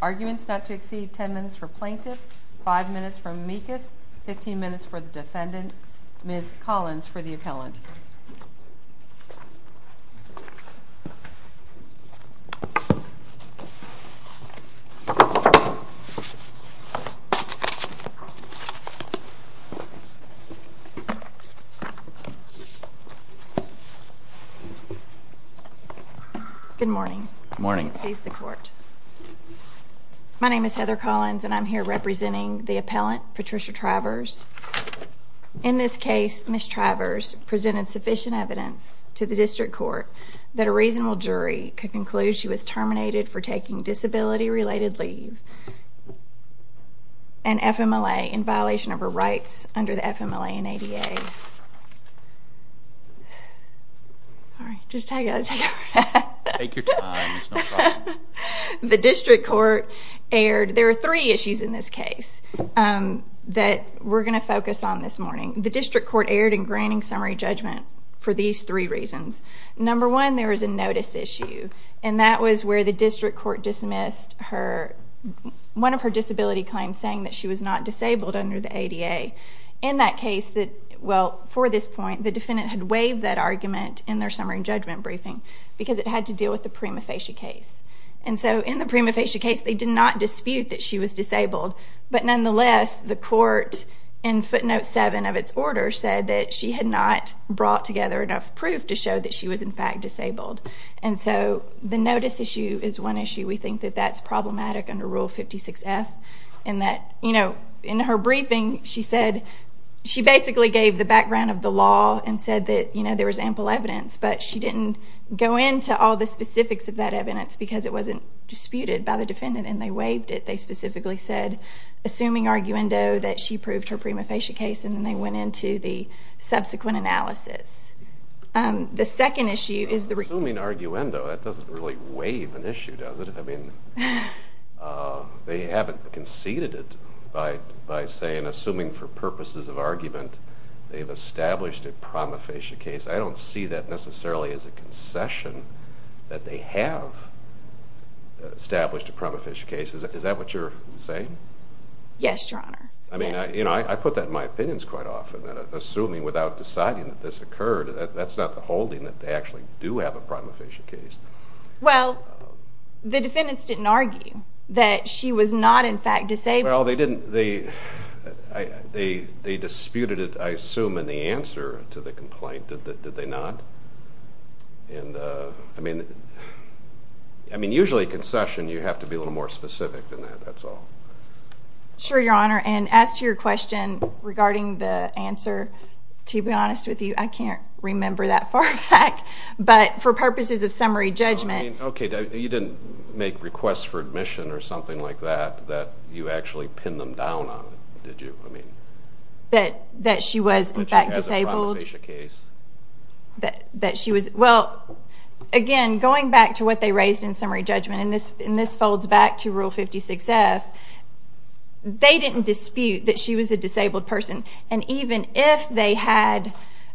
Arguments not to exceed 10 minutes for Plaintiff, 5 minutes for Meekus, 15 minutes for the Defendant, Ms. Collins for the appellant. Good morning. Good morning. Please the court. My name is Heather Collins, and I'm here representing the appellant, Patricia Travers. In this case, Ms. Travers presented sufficient evidence to the district court that a reasonable jury could conclude she was terminated for taking disability-related leave and FMLA in violation of her rights under the FMLA and ADA. Sorry. Just I got to take a breath. Take your time. It's no problem. The district court erred. There are three issues in this case that we're going to focus on this morning. The district court erred in granting summary judgment for these three reasons. Number one, there was a notice issue. And that was where the district court dismissed one of her disability claims saying that she was not disabled under the ADA. In that case, well, for this point, the defendant had waived that argument in their summary judgment briefing because it had to deal with the prima facie case. And so in the prima facie case, they did not dispute that she was disabled. But nonetheless, the court in footnote seven of its order said that she had not brought together enough proof to show that she was, in fact, disabled. And so the notice issue is one issue. We think that that's problematic under Rule 56F. And that in her briefing, she basically gave the background of the law and said that there was ample evidence. But she didn't go into all the specifics of that evidence because it wasn't disputed by the defendant. And they waived it. They specifically said, assuming arguendo, that she proved her prima facie case. And then they went into the subsequent analysis. The second issue is the re- Assuming arguendo, that doesn't really waive an issue, does it? I mean, they haven't conceded it by saying, assuming for purposes of argument, they've established a prima facie case. I don't see that necessarily as a concession that they have established a prima facie case. Is that what you're saying? Yes, Your Honor. I mean, I put that in my opinions quite often, that assuming without deciding that this occurred, that's not the holding that they actually do have a prima facie case. Well, the defendants didn't argue that she was not, in fact, disabled. Well, they disputed it, I assume, in the answer to the complaint, did they not? And I mean, usually a concession, you have to be a little more specific than that, that's all. Sure, Your Honor. And as to your question regarding the answer, to be honest with you, I can't remember that far back. But for purposes of summary judgment. Okay, you didn't make requests for admission or something like that, that you actually pinned them down on it, did you? I mean. That she was, in fact, disabled. That she has a prima facie case. That she was, well, again, going back to what they raised in summary judgment, and this folds back to Rule 56F, they didn't dispute that she was a disabled person. And even if they had,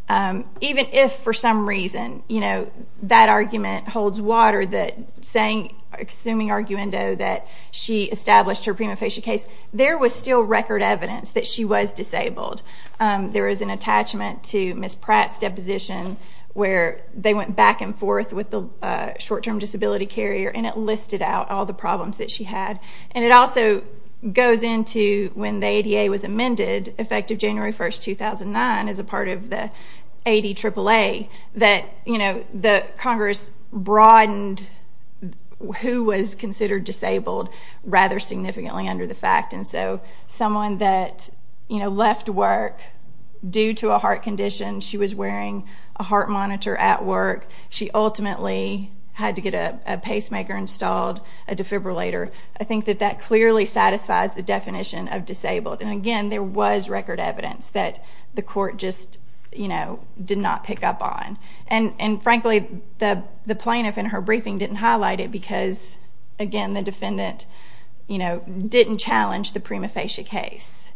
even if for some reason, you know, that argument holds water, that saying, assuming arguendo, that she established her prima facie case, there was still record evidence that she was disabled. There is an attachment to Ms. Pratt's deposition where they went back and forth with the short-term disability carrier, and it listed out all the problems that she had. And it also goes into, when the ADA was amended, effective January 1st, 2009, as a part of the ADAAA, that, you know, the Congress broadened who was considered disabled rather significantly under the fact. And so, someone that, you know, left work due to a heart condition. She was wearing a heart monitor at work. She ultimately had to get a pacemaker installed, a defibrillator. I think that that clearly satisfies the definition of disabled. And again, there was record evidence that the court just, you know, did not pick up on. And frankly, the plaintiff in her briefing didn't highlight it because, again, the defendant, you know, didn't challenge the prima facie case.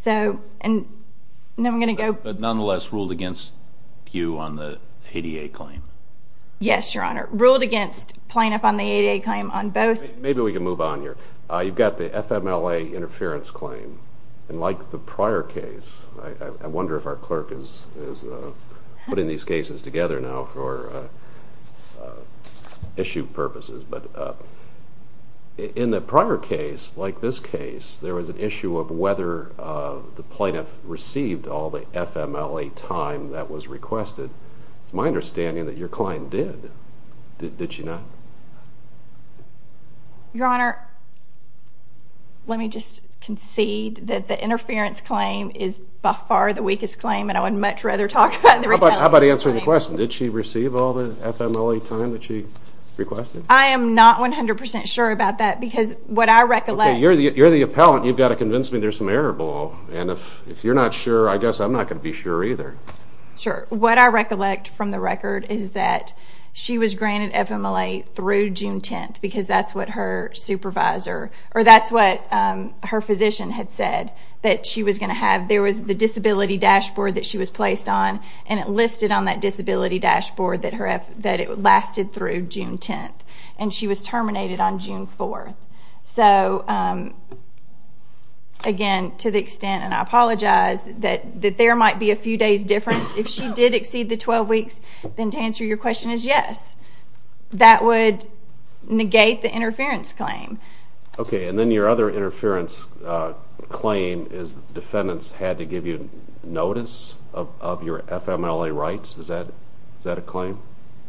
So, and now I'm going to go. But nonetheless, ruled against you on the ADA claim? Yes, Your Honor. Ruled against plaintiff on the ADA claim on both. Maybe we can move on here. You've got the FMLA interference claim. And like the prior case, I wonder if our clerk is putting these cases together now for issue purposes. But in the prior case, like this case, there was an issue of whether the plaintiff received all the FMLA time that was requested. It's my understanding that your client did. Did she not? Your Honor, let me just concede that the interference claim is by far the weakest claim. And I would much rather talk about the retaliation claim. How about answering the question? Did she receive all the FMLA time that she requested? I am not 100% sure about that. Because what I recollect... Okay, you're the appellant. You've got to convince me there's some error below. And if you're not sure, I guess I'm not going to be sure either. Sure. What I recollect from the record is that she was granted FMLA through June 10th. Because that's what her supervisor... Or that's what her physician had said that she was going to have. There was the disability dashboard that she was placed on. And it listed on that disability dashboard that it lasted through June 10th. And she was terminated on June 4th. So, again, to the extent... And I apologize that there might be a few days difference. If she did exceed the 12 weeks, then to answer your question is yes. That would negate the interference claim. Okay. And then your other interference claim is the defendants had to give you notice of your FMLA rights. Is that a claim?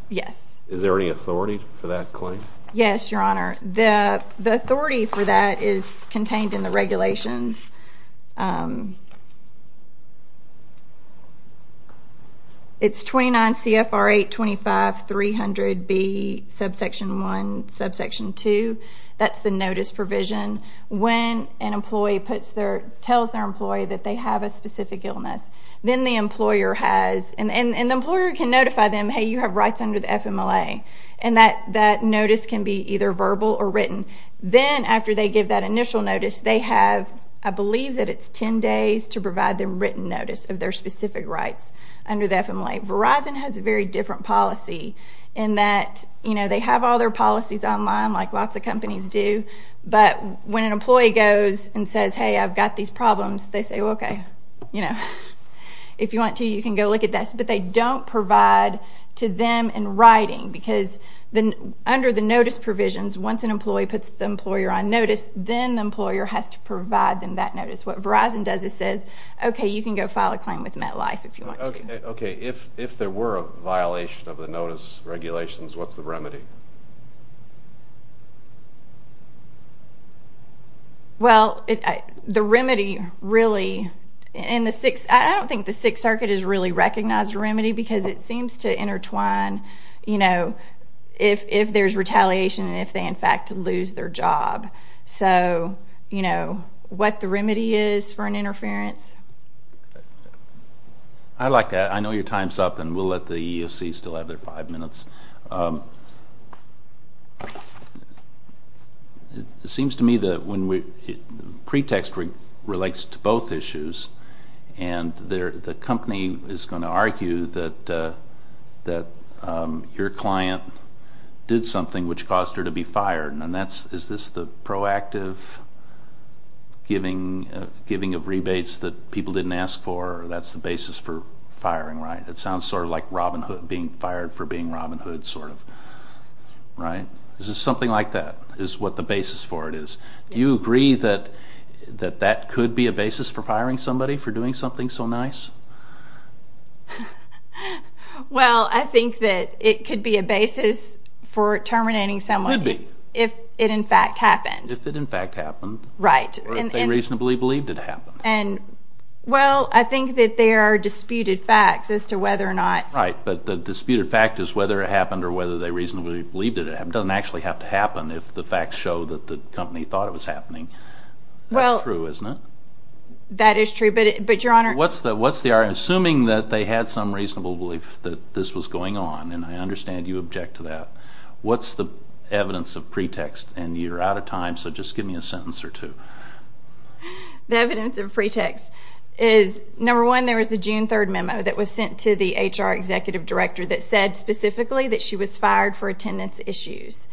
Yes. Is there any authority for that claim? Yes, Your Honor. The authority for that is contained in the regulations. It's 29 CFR 825-300B subsection 1, subsection 2. That's the notice provision. When an employee tells their employee that they have a specific illness, then the employer has... And the employer can notify them, hey, you have rights under the FMLA. And that notice can be either verbal or written. Then after they give that initial notice, they have, I believe, that it's 10 days to provide them written notice of their specific rights under the FMLA. Verizon has a very different policy in that, you know, they have all their policies online like lots of companies do. But when an employee goes and says, hey, I've got these problems, they say, okay, you know, if you want to, you can go look at this. But they don't provide to them in writing because under the notice provisions, once an employee puts the employer on notice, then the employer has to provide them that notice. What Verizon does is says, okay, you can go file a claim with MetLife if you want to. Okay, if there were a violation of the notice regulations, what's the remedy? Well, the remedy really, in the Sixth, I don't think the Sixth Circuit has really recognized the remedy because it seems to intertwine, you know, if there's retaliation and if they, in fact, lose their job. So, you know, what the remedy is for an interference. I like that. I know your time's up and we'll let the EEOC still have their five minutes. It seems to me that when we, pretext relates to both issues and the company is going to argue that your client did something which caused her to be fired and that's, is this the proactive giving of rebates that people didn't ask for? That's the basis for firing, right? It sounds sort of like Robin Hood being fired for being Robin Hood, sort of, right? Is it something like that is what the basis for it is? Do you agree that that could be a basis for firing somebody for doing something so nice? Well, I think that it could be a basis for terminating someone. It could be. If it, in fact, happened. If it, in fact, happened. Right. Or if they reasonably believed it happened. And, well, I think that there are disputed facts as to whether or not. Right. But the disputed fact is whether it happened or whether they reasonably believed it. It doesn't actually have to happen if the facts show that the company thought it was happening. Well. That's true, isn't it? That is true. But, Your Honor. What's the, assuming that they had some reasonable belief that this was going on, and I understand you object to that, what's the evidence of pretext? And you're out of time, so just give me a sentence or two. The evidence of pretext is, number one, there was the June 3rd memo that was sent to the HR executive director that said specifically that she was fired for attendance issues.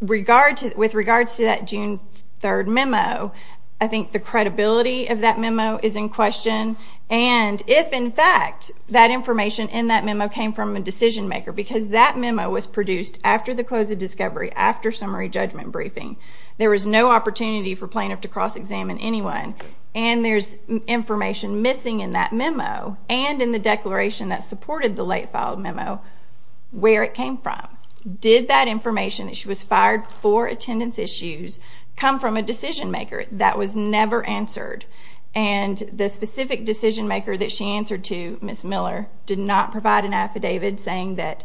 With regards to that June 3rd memo, I think the credibility of that memo is in question. And if, in fact, that information in that memo came from a decision maker, because that memo was produced after the close of discovery, after summary judgment briefing, there was no opportunity for plaintiff to cross-examine anyone, and there's information missing in that memo, and in the declaration that supported the late-filed memo, where it came from. Did that information, that she was fired for attendance issues, come from a decision maker? That was never answered. And the specific decision maker that she answered to, Ms. Miller, did not provide an affidavit saying that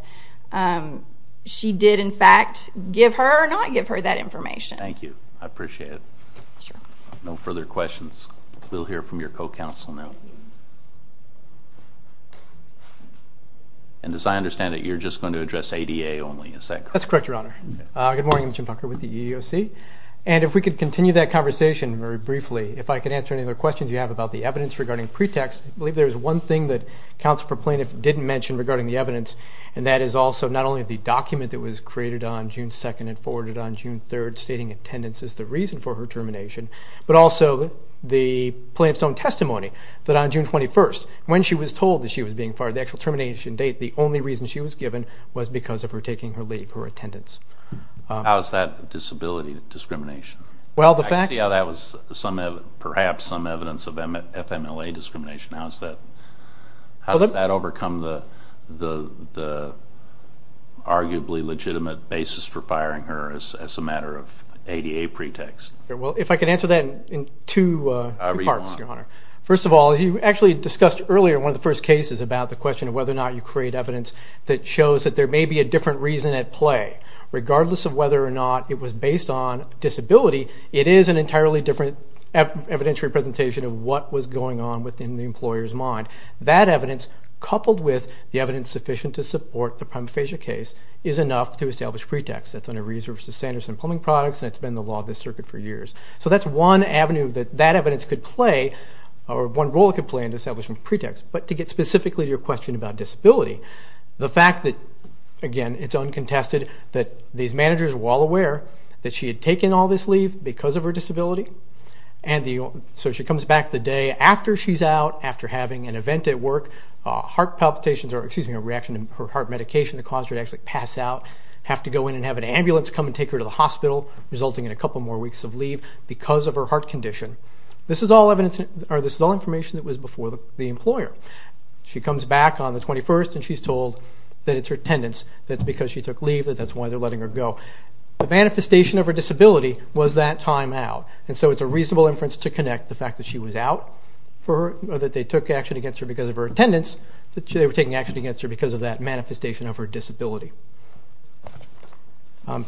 she did, in fact, give her or not give her that information. Thank you. I appreciate it. No further questions. We'll hear from your co-counsel now. And as I understand it, you're just going to address ADA only, is that correct? That's correct, Your Honor. Good morning. I'm Jim Tucker with the EEOC. And if we could continue that conversation very briefly, if I could answer any other questions you have about the evidence regarding pretext. I believe there's one thing that Counsel for Plaintiff didn't mention regarding the evidence, and that is also not only the document that was created on June 2nd and forwarded on June 3rd stating attendance is the reason for her termination, but also the plaintiff's own testimony that on June 21st, when she was told that she was being fired, the actual termination date, the only reason she was given was because of her taking her leave, her attendance. How is that disability discrimination? I can see how that was perhaps some evidence of FMLA discrimination. How does that overcome the arguably legitimate basis for firing her as a matter of ADA pretext? If I could answer that in two parts, Your Honor. First of all, you actually discussed earlier one of the first cases about the question of whether or not you create evidence that shows that there may be a different reason at play. Regardless of whether or not it was based on disability, it is an entirely different evidentiary presentation of what was going on within the employer's mind. That evidence, coupled with the evidence sufficient to support the prima facie case, is enough to establish pretext. That's under Rees v. Sanderson Plumbing Products, and it's been the law of this circuit for years. So that's one avenue that that evidence could play, or one role it could play in establishing pretext. But to get specifically to your question about disability, the fact that, again, it's uncontested that these managers were all aware that she had taken all this leave because of her disability. So she comes back the day after she's out, after having an event at work, heart palpitations, or excuse me, a reaction to her heart medication that caused her to actually pass out, have to go in and have an ambulance come and take her to the hospital, resulting in a couple more weeks of leave because of her heart condition. This is all information that was before the employer. She comes back on the 21st, and she's told that it's her attendance, that it's because she took leave, that that's why they're letting her go. The manifestation of her disability was that time out. And so it's a reasonable inference to connect the fact that she was out, that they took action against her because of her attendance, that they were taking action against her because of that manifestation of her disability. The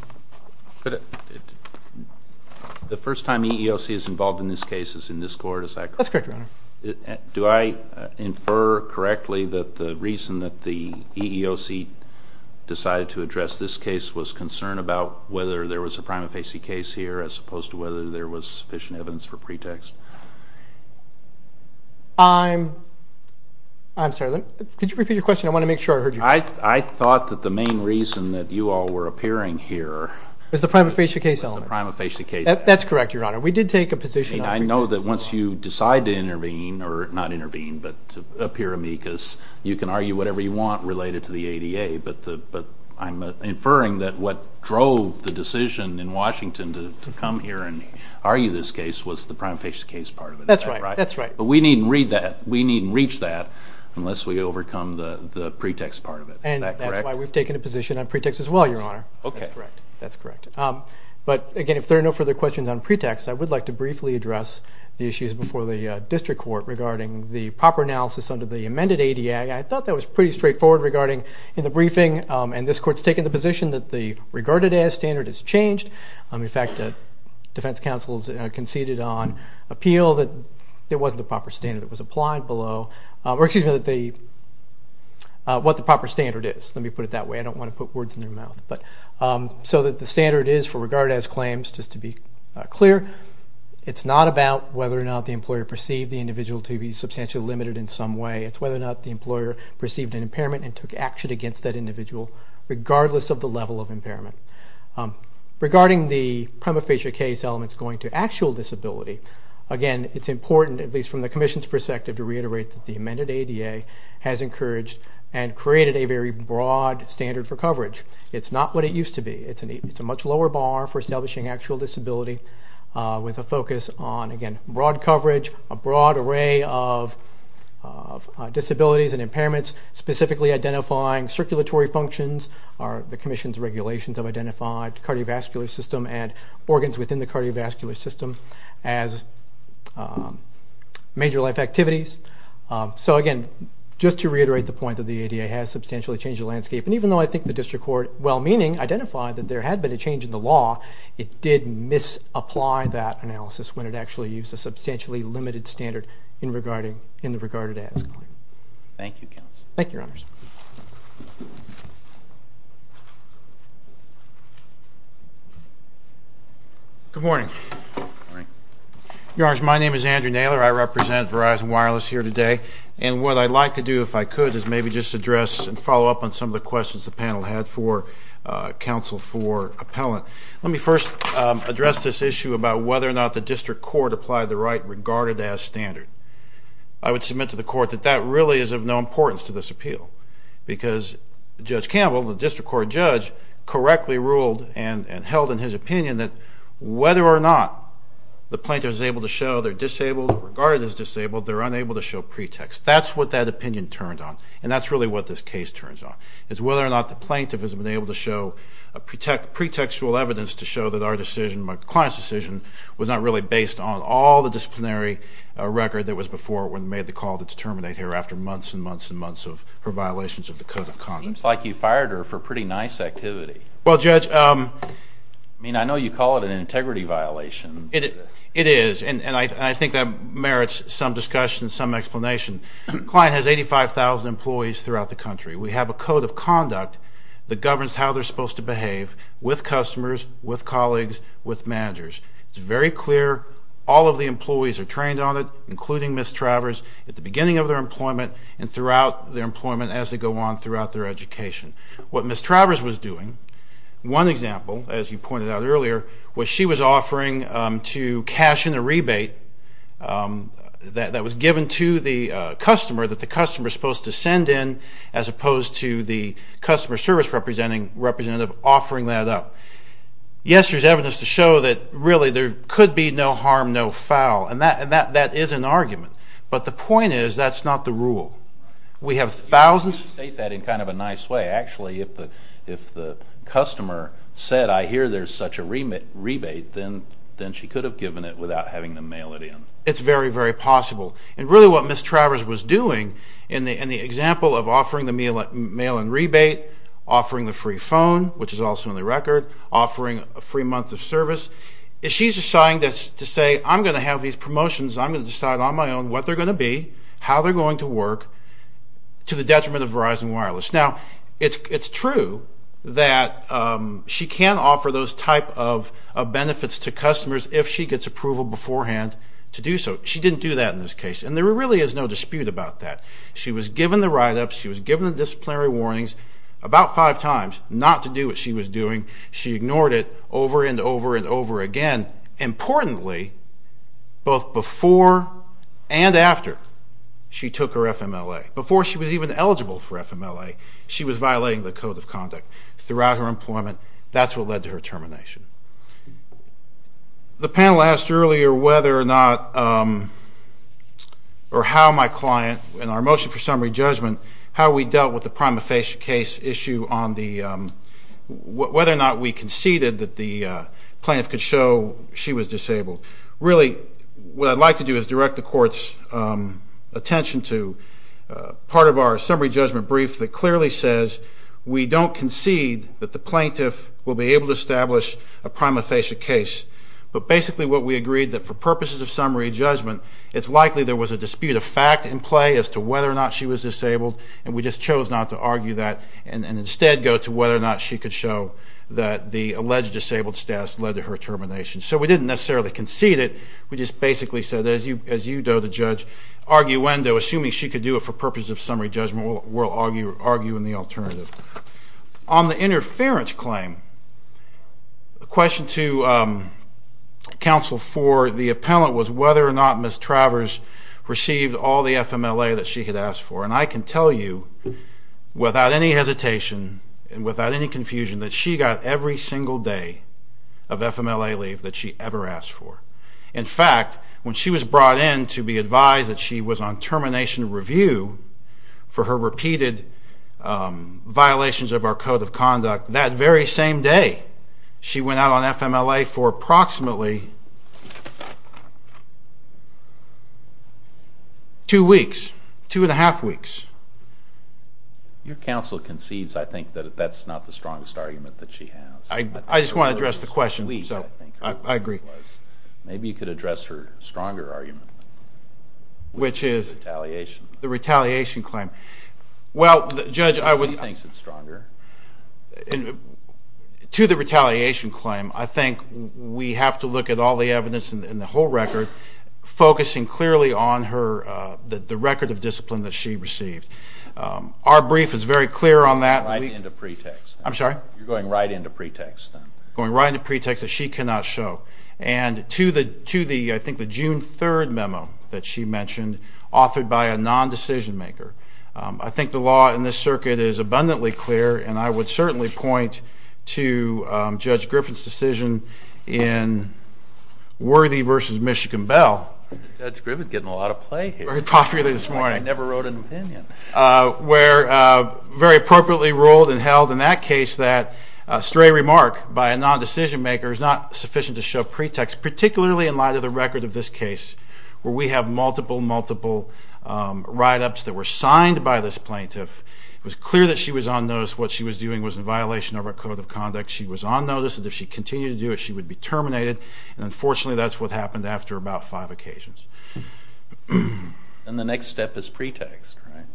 first time EEOC is involved in this case is in this court, is that correct? That's correct, Your Honor. Do I infer correctly that the reason that the EEOC decided to address this case was concern about whether there was a prima facie case here as opposed to whether there was sufficient evidence for pretext? I'm sorry, could you repeat your question? I want to make sure I heard you. I thought that the main reason that you all were appearing here was the prima facie case. That's correct, Your Honor. We did take a position on pretext. I know that once you decide to intervene, or not intervene, but appear amicus, you can argue whatever you want related to the ADA, but I'm inferring that what drove the decision in Washington to come here and argue this case was the prima facie case part of it. That's right. But we needn't read that, we needn't reach that, unless we overcome the pretext part of it. And that's why we've taken a position on pretext as well, Your Honor. That's correct. But again, if there are no further questions on pretext, I would like to briefly address the issues before the district court regarding the proper analysis under the amended ADA. I thought that was pretty straightforward regarding in the briefing, and this court's taken the position that the regarded-as standard has changed. In fact, defense counsels conceded on appeal that there wasn't a proper standard that was applied below, or excuse me, what the proper standard is. Let me put it that way, I don't want to put words in your mouth. So that the standard is for regarded-as claims, just to be clear, it's not about whether or not the employer perceived the individual to be substantially limited in some way. It's whether or not the employer perceived an impairment and took action against that individual, regardless of the level of impairment. Regarding the prima facie case elements going to actual disability, again, it's important, at least from the commission's perspective, to reiterate that the amended ADA has encouraged and created a very broad standard for coverage. It's not what it used to be. It's a much lower bar for establishing actual disability. With a focus on, again, broad coverage, a broad array of disabilities and impairments, specifically identifying circulatory functions, the commission's regulations have identified cardiovascular system and organs within the cardiovascular system as major life activities. So again, just to reiterate the point that the ADA has substantially changed the landscape, and even though I think the district court, well-meaning, identified that there had been a change in the law, it did misapply that analysis when it actually used a substantially limited standard in the regarded ADA. Thank you, counsel. Thank you, Your Honors. Good morning. Good morning. Your Honors, my name is Andrew Naylor. I represent Verizon Wireless here today. And what I'd like to do, if I could, is maybe just address and follow up on some of the questions the panel had for counsel for appellant. Let me first address this issue about whether or not the district court applied the right regarded-as standard. I would submit to the court that that really is of no importance to this appeal because Judge Campbell, the district court judge, correctly ruled and held in his opinion that whether or not the plaintiff is able to show they're disabled, regarded as disabled, they're unable to show pretext. That's what that opinion turned on, and that's really what this case turns on. It's whether or not the plaintiff has been able to show pretextual evidence to show that our decision, my client's decision, was not really based on all the disciplinary record that was before when we made the call to terminate her after months and months and months of her violations of the Code of Conduct. Seems like you fired her for pretty nice activity. Well, Judge... I mean, I know you call it an integrity violation. It is, and I think that merits some discussion, some explanation. The client has 85,000 employees throughout the country. We have a Code of Conduct that governs how they're supposed to behave with customers, with colleagues, with managers. It's very clear. All of the employees are trained on it, including Ms. Travers, at the beginning of their employment and throughout their employment as they go on throughout their education. What Ms. Travers was doing, one example, as you pointed out earlier, was she was offering to cash in a rebate that was given to the customer that the customer's supposed to send in as opposed to the customer service representative offering that up. Yes, there's evidence to show that really there could be no harm, no foul. And that is an argument. But the point is, that's not the rule. We have thousands... You state that in kind of a nice way. Actually, if the customer said, I hear there's such a rebate, then she could have given it without having them mail it in. It's very, very possible. And really what Ms. Travers was doing in the example of offering the mail-in rebate, offering the free phone, which is also on the record, offering a free month of service, is she's deciding to say, I'm going to have these promotions, I'm going to decide on my own what they're going to be, how they're going to work, to the detriment of Verizon Wireless. Now, it's true that she can offer those type of benefits to customers if she gets approval beforehand to do so. She didn't do that in this case. And there really is no dispute about that. She was given the write-up, she was given the disciplinary warnings about five times not to do what she was doing. She ignored it over and over and over again. Importantly, both before and after she took her FMLA, before she was even eligible for FMLA, she was violating the Code of Conduct throughout her employment. That's what led to her termination. The panel asked earlier whether or not, or how my client, in our motion for summary judgment, how we dealt with the prima facie case issue on whether or not we conceded that the plaintiff could show she was disabled. Really, what I'd like to do is direct the court's attention to part of our summary judgment brief that clearly says we don't concede that the plaintiff will be able to establish a prima facie case. But basically what we agreed, that for purposes of summary judgment, it's likely there was a dispute of fact in play as to whether or not she was disabled, and we just chose not to argue that and instead go to whether or not she could show that the alleged disabled status led to her termination. So we didn't necessarily concede it, we just basically said, as you do, the judge, arguendo, assuming she could do it for purposes of summary judgment, we'll argue in the alternative. On the interference claim, the question to counsel for the appellant was whether or not Ms. Travers received all the FMLA that she had asked for. And I can tell you, without any hesitation and without any confusion, that she got every single day of FMLA leave that she ever asked for. In fact, when she was brought in to be advised that she was on termination review for her repeated violations of our Code of Conduct, that very same day, she went out on FMLA for approximately two weeks, two and a half weeks. Your counsel concedes, I think, that that's not the strongest argument that she has. I just want to address the question, so I agree. Maybe you could address her stronger argument. Which is? The retaliation claim. Well, Judge, I would... She thinks it's stronger. To the retaliation claim, I think we have to look at all the evidence in the whole record, focusing clearly on the record of discipline that she received. Our brief is very clear on that. You're going right into pretext. I'm sorry? You're going right into pretext. Going right into pretext that she cannot show. And to the, I think, the June 3rd memo that she mentioned, authored by a non-decision maker, I think the law in this circuit is abundantly clear, and I would certainly point to Judge Griffin's decision in Worthy v. Michigan Bell. Judge Griffin's getting a lot of play here. Very popular this morning. I never wrote an opinion. Where very appropriately ruled and held in that case that a stray remark by a non-decision maker is not sufficient to show pretext, particularly in light of the record of this case, where we have multiple, multiple write-ups that were signed by this plaintiff. It was clear that she was on notice. What she was doing was in violation of our code of conduct. She was on notice, and if she continued to do it, she would be terminated. And unfortunately, that's what happened after about five occasions. And the next step is pretext, right?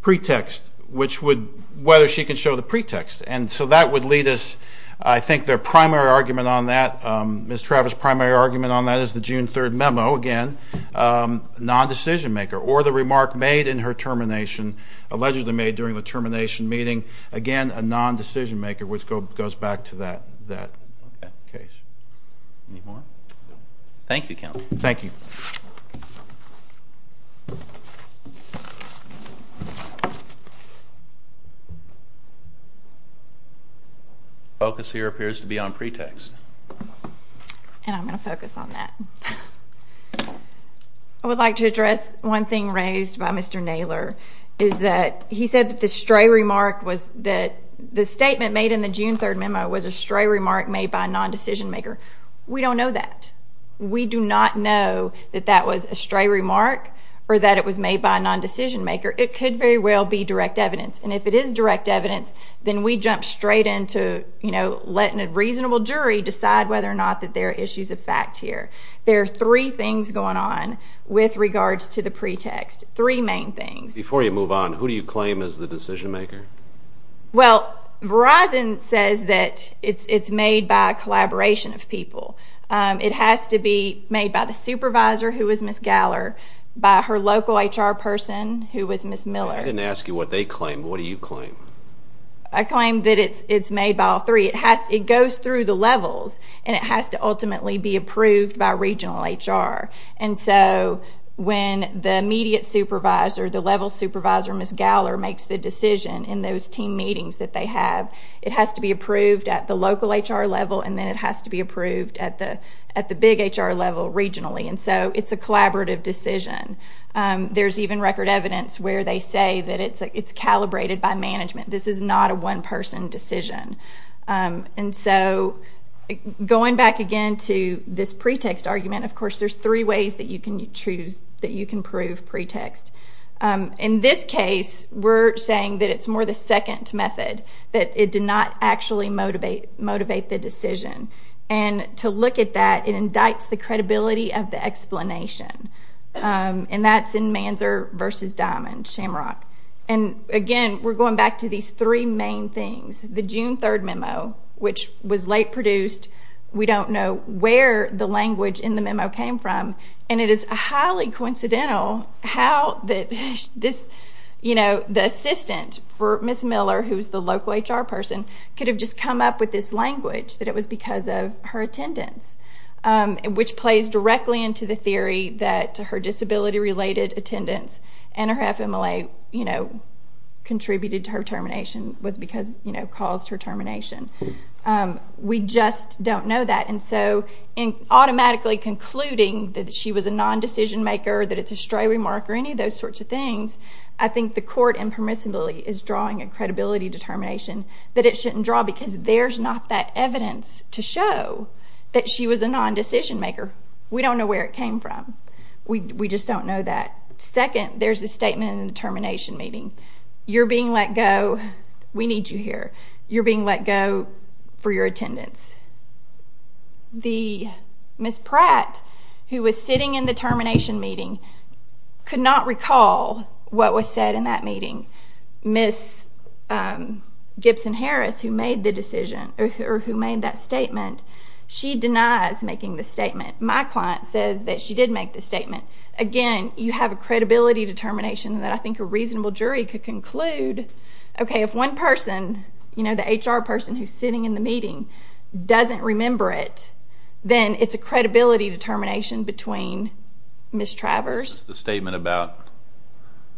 Pretext. Which would... Whether she can show the pretext. And so that would lead us, I think their primary argument on that, Ms. Travis' primary argument on that is the June 3rd memo. Again, non-decision maker. Or the remark made in her termination, allegedly made during the termination meeting. Again, a non-decision maker, which goes back to that case. Any more? Thank you, Counsel. Thank you. The focus here appears to be on pretext. And I'm going to focus on that. I would like to address one thing raised by Mr. Naylor, is that he said that the stray remark was that the statement made in the June 3rd memo was a stray remark made by a non-decision maker. We don't know that. We do not know that that was a stray remark or that it was made by a non-decision maker. It could very well be direct evidence. And if it is direct evidence, then we jump straight into, you know, letting a reasonable jury decide whether or not that there are issues of fact here. There are three things going on with regards to the pretext. Three main things. Before you move on, who do you claim is the decision maker? Well, Verizon says that it's made by a collaboration of people. It has to be made by the supervisor, who is Ms. Galler, by her local HR person, who is Ms. Miller. I didn't ask you what they claim. What do you claim? I claim that it's made by all three. It goes through the levels, and it has to ultimately be approved by regional HR. And so when the immediate supervisor, the level supervisor, Ms. Galler, makes the decision in those team meetings that they have, it has to be approved at the local HR level, and then it has to be approved at the big HR level regionally. And so it's a collaborative decision. There's even record evidence where they say that it's calibrated by management. This is not a one-person decision. And so going back again to this pretext argument, of course there's three ways that you can choose that you can prove pretext. In this case, we're saying that it's more the second method, that it did not actually motivate the decision. And to look at that, it indicts the credibility of the explanation. And that's in Manzer v. Diamond, Shamrock. And again, we're going back to these three main things. The June 3 memo, which was late produced. We don't know where the language in the memo came from. And it is highly coincidental how the assistant for Ms. Miller, who's the local HR person, could have just come up with this language that it was because of her attendance, which plays directly into the theory that her disability-related attendance and her FMLA contributed to her termination, was because it caused her termination. We just don't know that. And so in automatically concluding that she was a non-decision maker, that it's a stray remark or any of those sorts of things, I think the court impermissibly is drawing a credibility determination that it shouldn't draw because there's not that evidence to show that she was a non-decision maker. We don't know where it came from. We just don't know that. Second, there's a statement in the termination meeting. You're being let go. We need you here. You're being let go for your attendance. Ms. Pratt, who was sitting in the termination meeting, could not recall what was said in that meeting. Ms. Gibson-Harris, who made the decision, or who made that statement, she denies making the statement. My client says that she did make the statement. Again, you have a credibility determination that I think a reasonable jury could conclude, okay, if one person, the HR person who's sitting in the meeting, doesn't remember it, then it's a credibility determination between Ms. Travers... It's the statement about...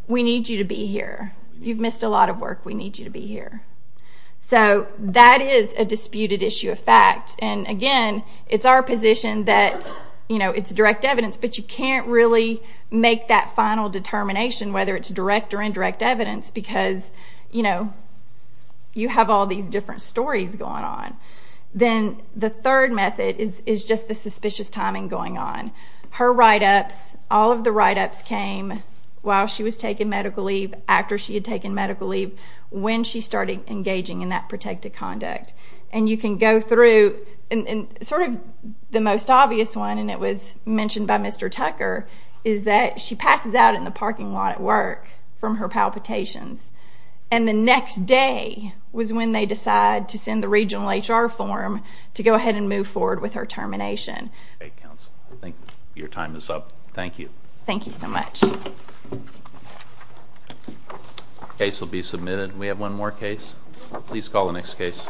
We need you to be here. You've missed a lot of work. We need you to be here. That is a disputed issue of fact. Again, it's our position that it's direct evidence, but you can't really make that final determination whether it's direct or indirect evidence because you have all these different stories going on. Then the third method is just the suspicious timing going on. Her write-ups, all of the write-ups came while she was taking medical leave, after she had taken medical leave, when she started engaging in that protective conduct. You can go through... Sort of the most obvious one, and it was mentioned by Mr. Tucker, is that she passes out in the parking lot at work from her palpitations, and the next day was when they decide to send the regional HR form to go ahead and move forward with her termination. Okay, counsel. I think your time is up. Thank you. Thank you so much. Case will be submitted. We have one more case. Please call the next case.